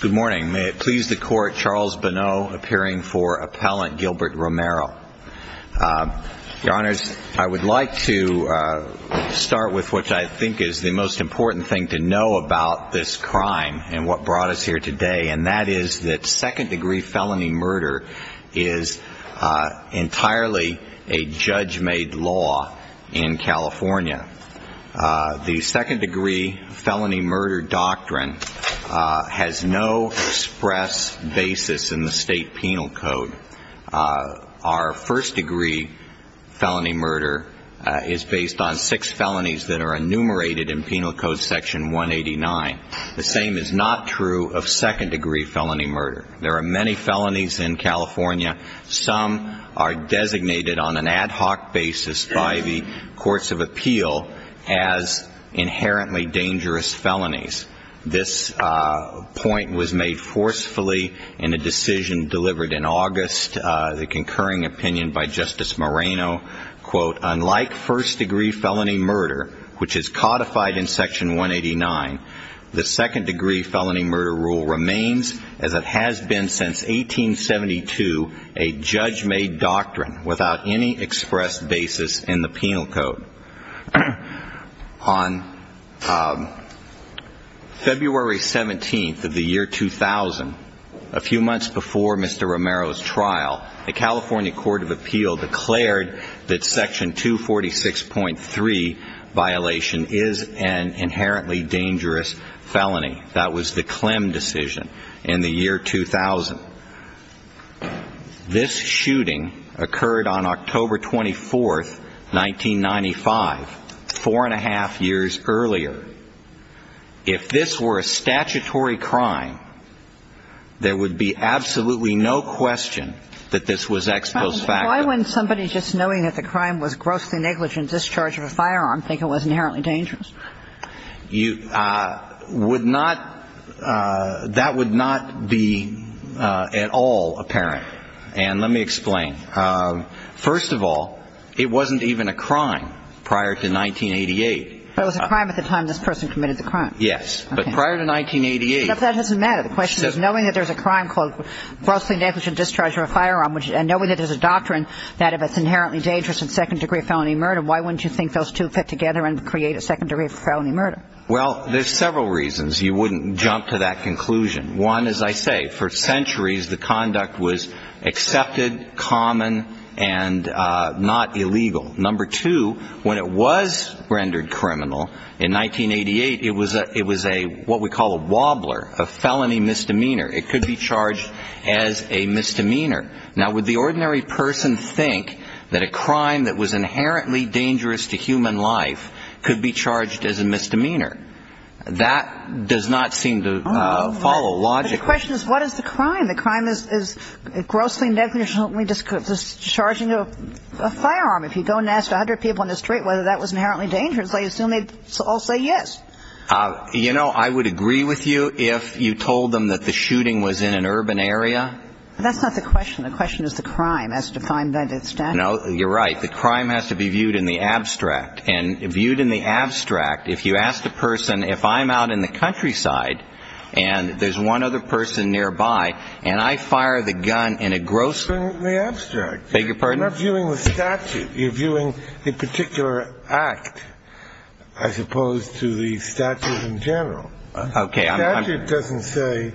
Good morning. May it please the Court, Charles Bonneau appearing for Appellant Gilbert Romero. Your Honors, I would like to start with what I think is the most important thing to know about this crime and what brought us here today, and that is that second-degree felony murder is entirely a judge-made law in California. The second-degree felony murder doctrine has no express basis in the State Penal Code. Our first-degree felony murder is based on six felonies that are enumerated in Penal Code Section 189. The same is not true of second-degree felony murder. There are many felonies in California. Some are designated on an ad hoc basis by the Courts of Appeal as inherently dangerous felonies. This point was made forcefully in a decision delivered in August, the concurring opinion by Justice Moreno, quote, unlike first-degree felony murder, which is codified in Section 189, the second-degree felony murder rule remains, as it has been since 1872, a judge-made doctrine without any express basis in the Penal Code. On February 17th of the year 2000, a few months before Mr. Romero's trial, the California Court of Appeal declared that Section 246.3 violation is an inherently dangerous felony. That was the Clem decision in the year 2000. This shooting occurred on October 24th, 1995, four-and-a-half years earlier. The reason for this is that the statute of limitations of Section 246.3 states that if this were a statutory crime, there would be absolutely no question that this was ex post facto. Why would somebody just knowing that the crime was grossly negligent discharge of a firearm think it was inherently dangerous? You would not that would not be at all apparent. And let me explain. First of all, it wasn't even a crime prior to 1988. It was a crime at the time this person committed the crime. Yes. But prior to 1988. That doesn't matter. The question is knowing that there's a crime called grossly negligent discharge of a firearm and knowing that there's a doctrine that if it's inherently dangerous and second-degree felony murder, why wouldn't you think those two fit together and create a secondary felony murder? Well, there's several reasons you wouldn't jump to that conclusion. One, as I say, for centuries the conduct was accepted, common, and not illegal. Number two, when it was rendered criminal in 1988, it was a what we call a wobbler, a felony misdemeanor. It could be charged as a misdemeanor. Now, would the ordinary person think that a crime that was inherently dangerous to human life could be charged as a misdemeanor? That does not seem to follow logically. The question is what is the crime? The crime is grossly negligent discharging of a firearm. If you go and ask 100 people in the street whether that was inherently dangerous, I assume they'd all say yes. You know, I would agree with you if you told them that the shooting was in an urban area. But that's not the question. The question is the crime as defined by the statute. No, you're right. The crime has to be viewed in the abstract. And viewed in the abstract, if you ask the person, if I'm out in the countryside and there's one other person nearby and I fire the gun in a grossly abstract. I beg your pardon? You're not viewing the statute. You're viewing the particular act as opposed to the statute in general. Okay. The statute doesn't say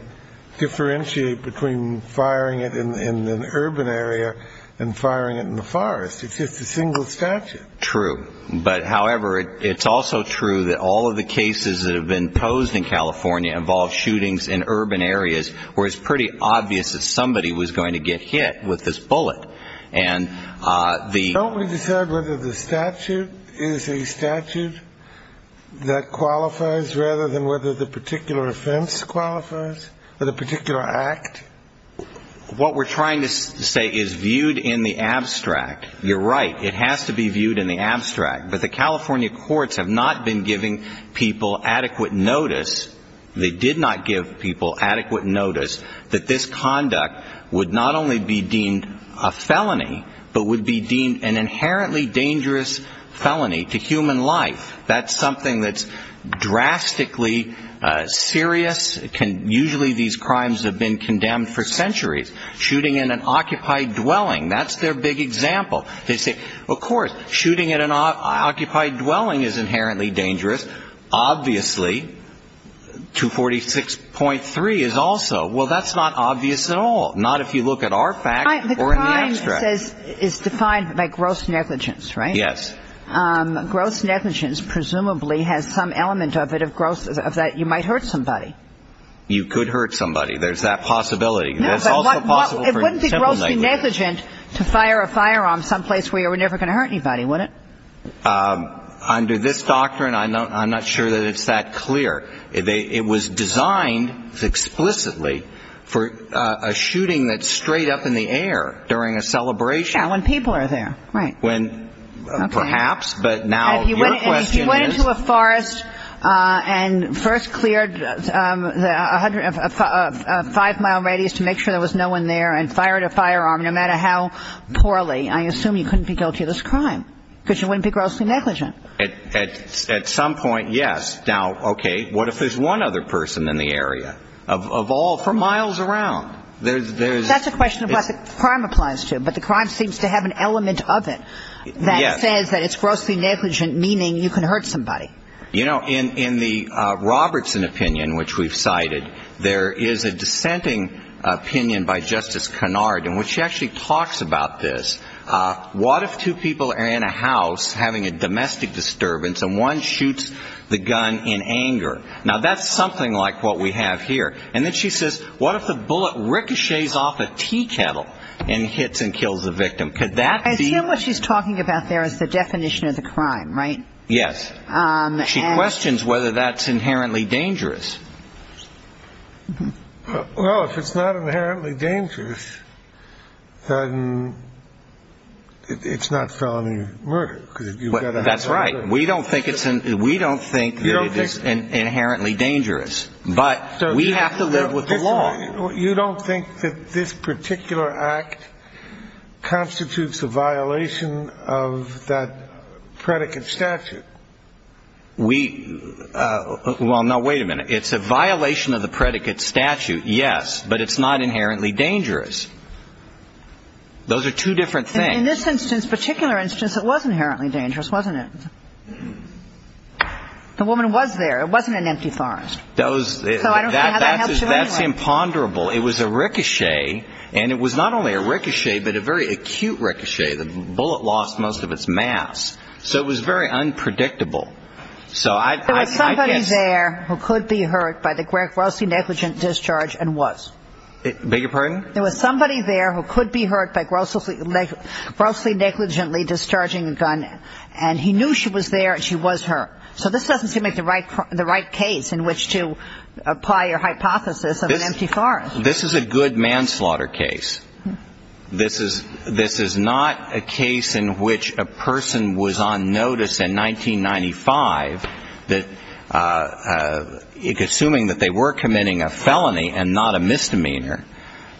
differentiate between firing it in an urban area and firing it in the forest. It's just a single statute. True. But, however, it's also true that all of the cases that have been posed in California involve shootings in urban areas where it's pretty obvious that somebody was going to get hit with this bullet. Don't we decide whether the statute is a statute that qualifies rather than whether the particular offense qualifies or the particular act? What we're trying to say is viewed in the abstract. You're right. It has to be viewed in the abstract. But the California courts have not been giving people adequate notice. They did not give people adequate notice that this conduct would not only be deemed a felony but would be deemed an inherently dangerous felony to human life. That's something that's drastically serious. Usually these crimes have been condemned for centuries. Shooting in an occupied dwelling, that's their big example. They say, of course, shooting at an occupied dwelling is inherently dangerous. Obviously, 246.3 is also. Well, that's not obvious at all. Not if you look at our facts or in the abstract. The crime is defined by gross negligence, right? Yes. Gross negligence presumably has some element of it of gross that you might hurt somebody. You could hurt somebody. There's that possibility. It wouldn't be grossly negligent to fire a firearm someplace where you were never going to hurt anybody, would it? Under this doctrine, I'm not sure that it's that clear. It was designed explicitly for a shooting that's straight up in the air during a celebration. Yeah, when people are there. Right. When perhaps, but now your question is. And first cleared a five-mile radius to make sure there was no one there and fired a firearm, no matter how poorly. I assume you couldn't be guilty of this crime because you wouldn't be grossly negligent. At some point, yes. Now, okay, what if there's one other person in the area of all, for miles around? That's a question of what the crime applies to, but the crime seems to have an element of it that says that it's grossly negligent, meaning you can hurt somebody. You know, in the Robertson opinion, which we've cited, there is a dissenting opinion by Justice Kennard in which she actually talks about this. What if two people are in a house having a domestic disturbance and one shoots the gun in anger? Now, that's something like what we have here. And then she says, what if the bullet ricochets off a tea kettle and hits and kills the victim? Could that be what she's talking about? There is the definition of the crime, right? Yes. She questions whether that's inherently dangerous. Well, if it's not inherently dangerous, then it's not felony murder. That's right. We don't think it's. We don't think it is inherently dangerous. But we have to live with the law. You don't think that this particular act constitutes a violation of that predicate statute? We – well, now, wait a minute. It's a violation of the predicate statute, yes, but it's not inherently dangerous. Those are two different things. In this instance, particular instance, it was inherently dangerous, wasn't it? The woman was there. It wasn't an empty thorns. So I don't see how that helps you anyway. That's imponderable. It was a ricochet, and it was not only a ricochet but a very acute ricochet. The bullet lost most of its mass. So it was very unpredictable. There was somebody there who could be hurt by the grossly negligent discharge and was. Beg your pardon? There was somebody there who could be hurt by grossly negligently discharging a gun, and he knew she was there and she was hurt. So this doesn't seem like the right case in which to apply your hypothesis of an empty thorn. This is a good manslaughter case. This is not a case in which a person was on notice in 1995, assuming that they were committing a felony and not a misdemeanor,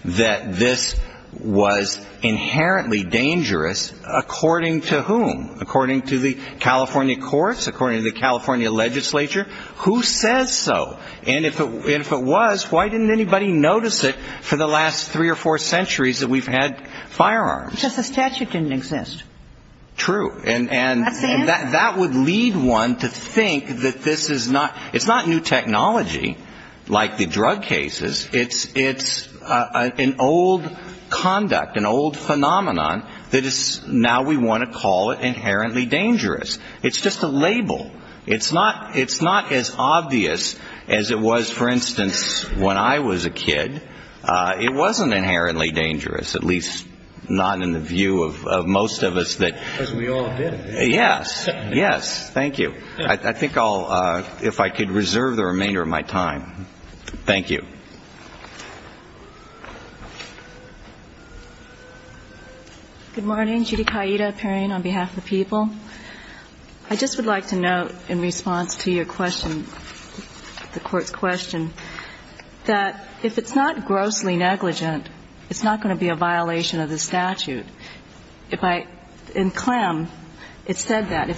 that this was inherently dangerous according to whom? According to the California courts? According to the California legislature? Who says so? And if it was, why didn't anybody notice it for the last three or four centuries that we've had firearms? Because the statute didn't exist. True. And that would lead one to think that this is not new technology like the drug cases. It's an old conduct, an old phenomenon that is now we want to call it inherently dangerous. It's just a label. It's not as obvious as it was, for instance, when I was a kid. It wasn't inherently dangerous, at least not in the view of most of us that we all did it. Yes. Yes. Thank you. I think I'll, if I could reserve the remainder of my time. Thank you. Thank you. Good morning. Judy Kaida appearing on behalf of the people. I just would like to note in response to your question, the Court's question, that if it's not grossly negligent, it's not going to be a violation of the statute. If I, in Clem, it said that,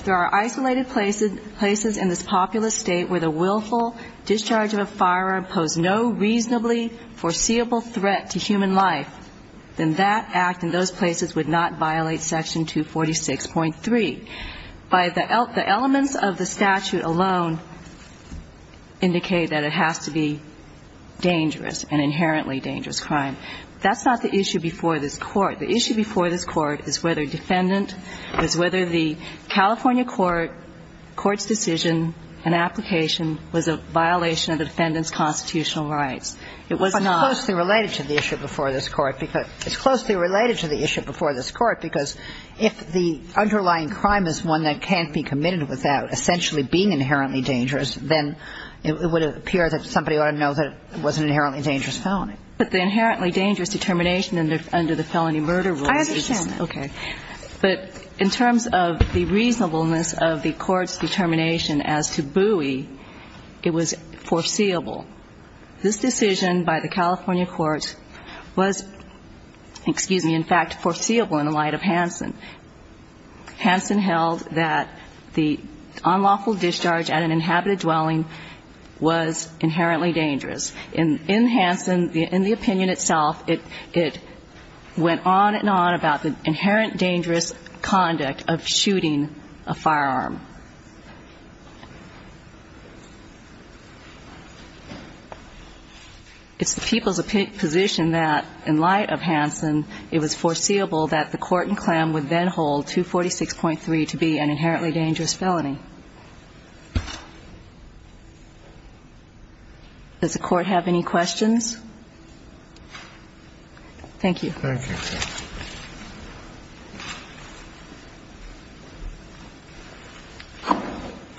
then that act in those places would not violate Section 246.3. The elements of the statute alone indicate that it has to be dangerous, an inherently dangerous crime. That's not the issue before this Court. The issue before this Court is whether defendant, is whether the California Court, the court's decision and application was a violation of the defendant's constitutional rights. It was not. But it's closely related to the issue before this Court. It's closely related to the issue before this Court because if the underlying crime is one that can't be committed without essentially being inherently dangerous, then it would appear that somebody ought to know that it was an inherently dangerous felony. But the inherently dangerous determination under the felony murder rule is just that. I understand. Okay. But in terms of the reasonableness of the Court's determination as to Bowie, it was foreseeable. This decision by the California Court was, excuse me, in fact, foreseeable in the light of Hansen. Hansen held that the unlawful discharge at an inhabited dwelling was inherently dangerous. In Hansen, in the opinion itself, it went on and on about the inherent dangerous conduct of shooting a firearm. It's the people's position that in light of Hansen, it was foreseeable that the court in Clem would then hold 246.3 to be an inherently dangerous felony. Does the Court have any questions? Thank you. Thank you.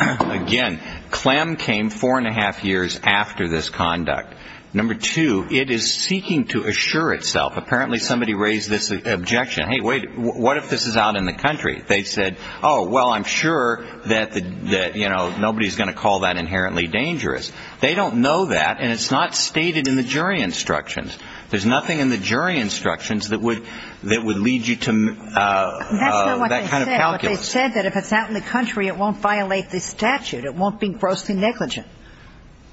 Again, Clem came four and a half years after this conduct. Number two, it is seeking to assure itself. Apparently somebody raised this objection. Hey, wait. What if this is out in the country? Nobody's going to call that inherently dangerous. They don't know that, and it's not stated in the jury instructions. There's nothing in the jury instructions that would lead you to that kind of calculus. But they said that if it's out in the country, it won't violate the statute. It won't be grossly negligent,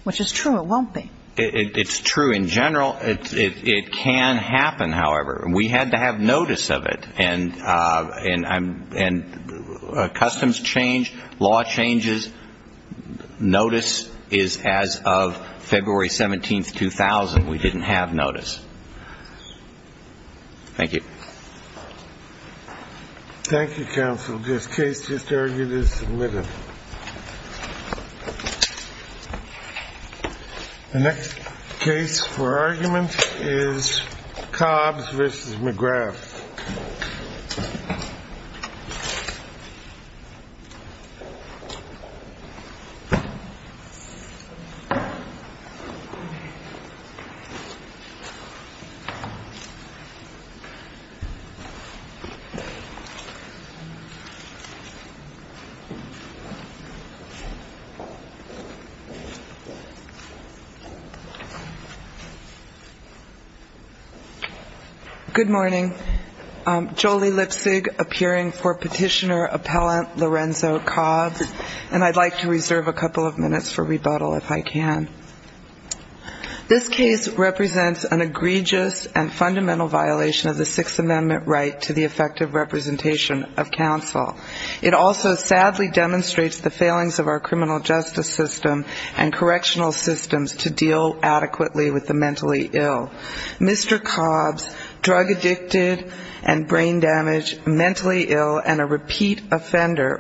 which is true. It won't be. It's true. In general, it can happen, however. We had to have notice of it. And customs changed. Law changes. Notice is as of February 17, 2000. We didn't have notice. Thank you. Thank you, counsel. This case just argued is submitted. The next case for argument is Cobbs v. McGrath. Good morning. Jolie Lipsig appearing for petitioner appellant Lorenzo Cobbs, and I'd like to reserve a couple of minutes for rebuttal if I can. This case represents an egregious and fundamental violation of the Sixth Amendment right to the effective representation of counsel. It also sadly demonstrates the failings of our criminal justice system and correctional systems to deal adequately with the mentally ill. Mr. Cobbs, drug addicted and brain damaged, mentally ill, and a repeat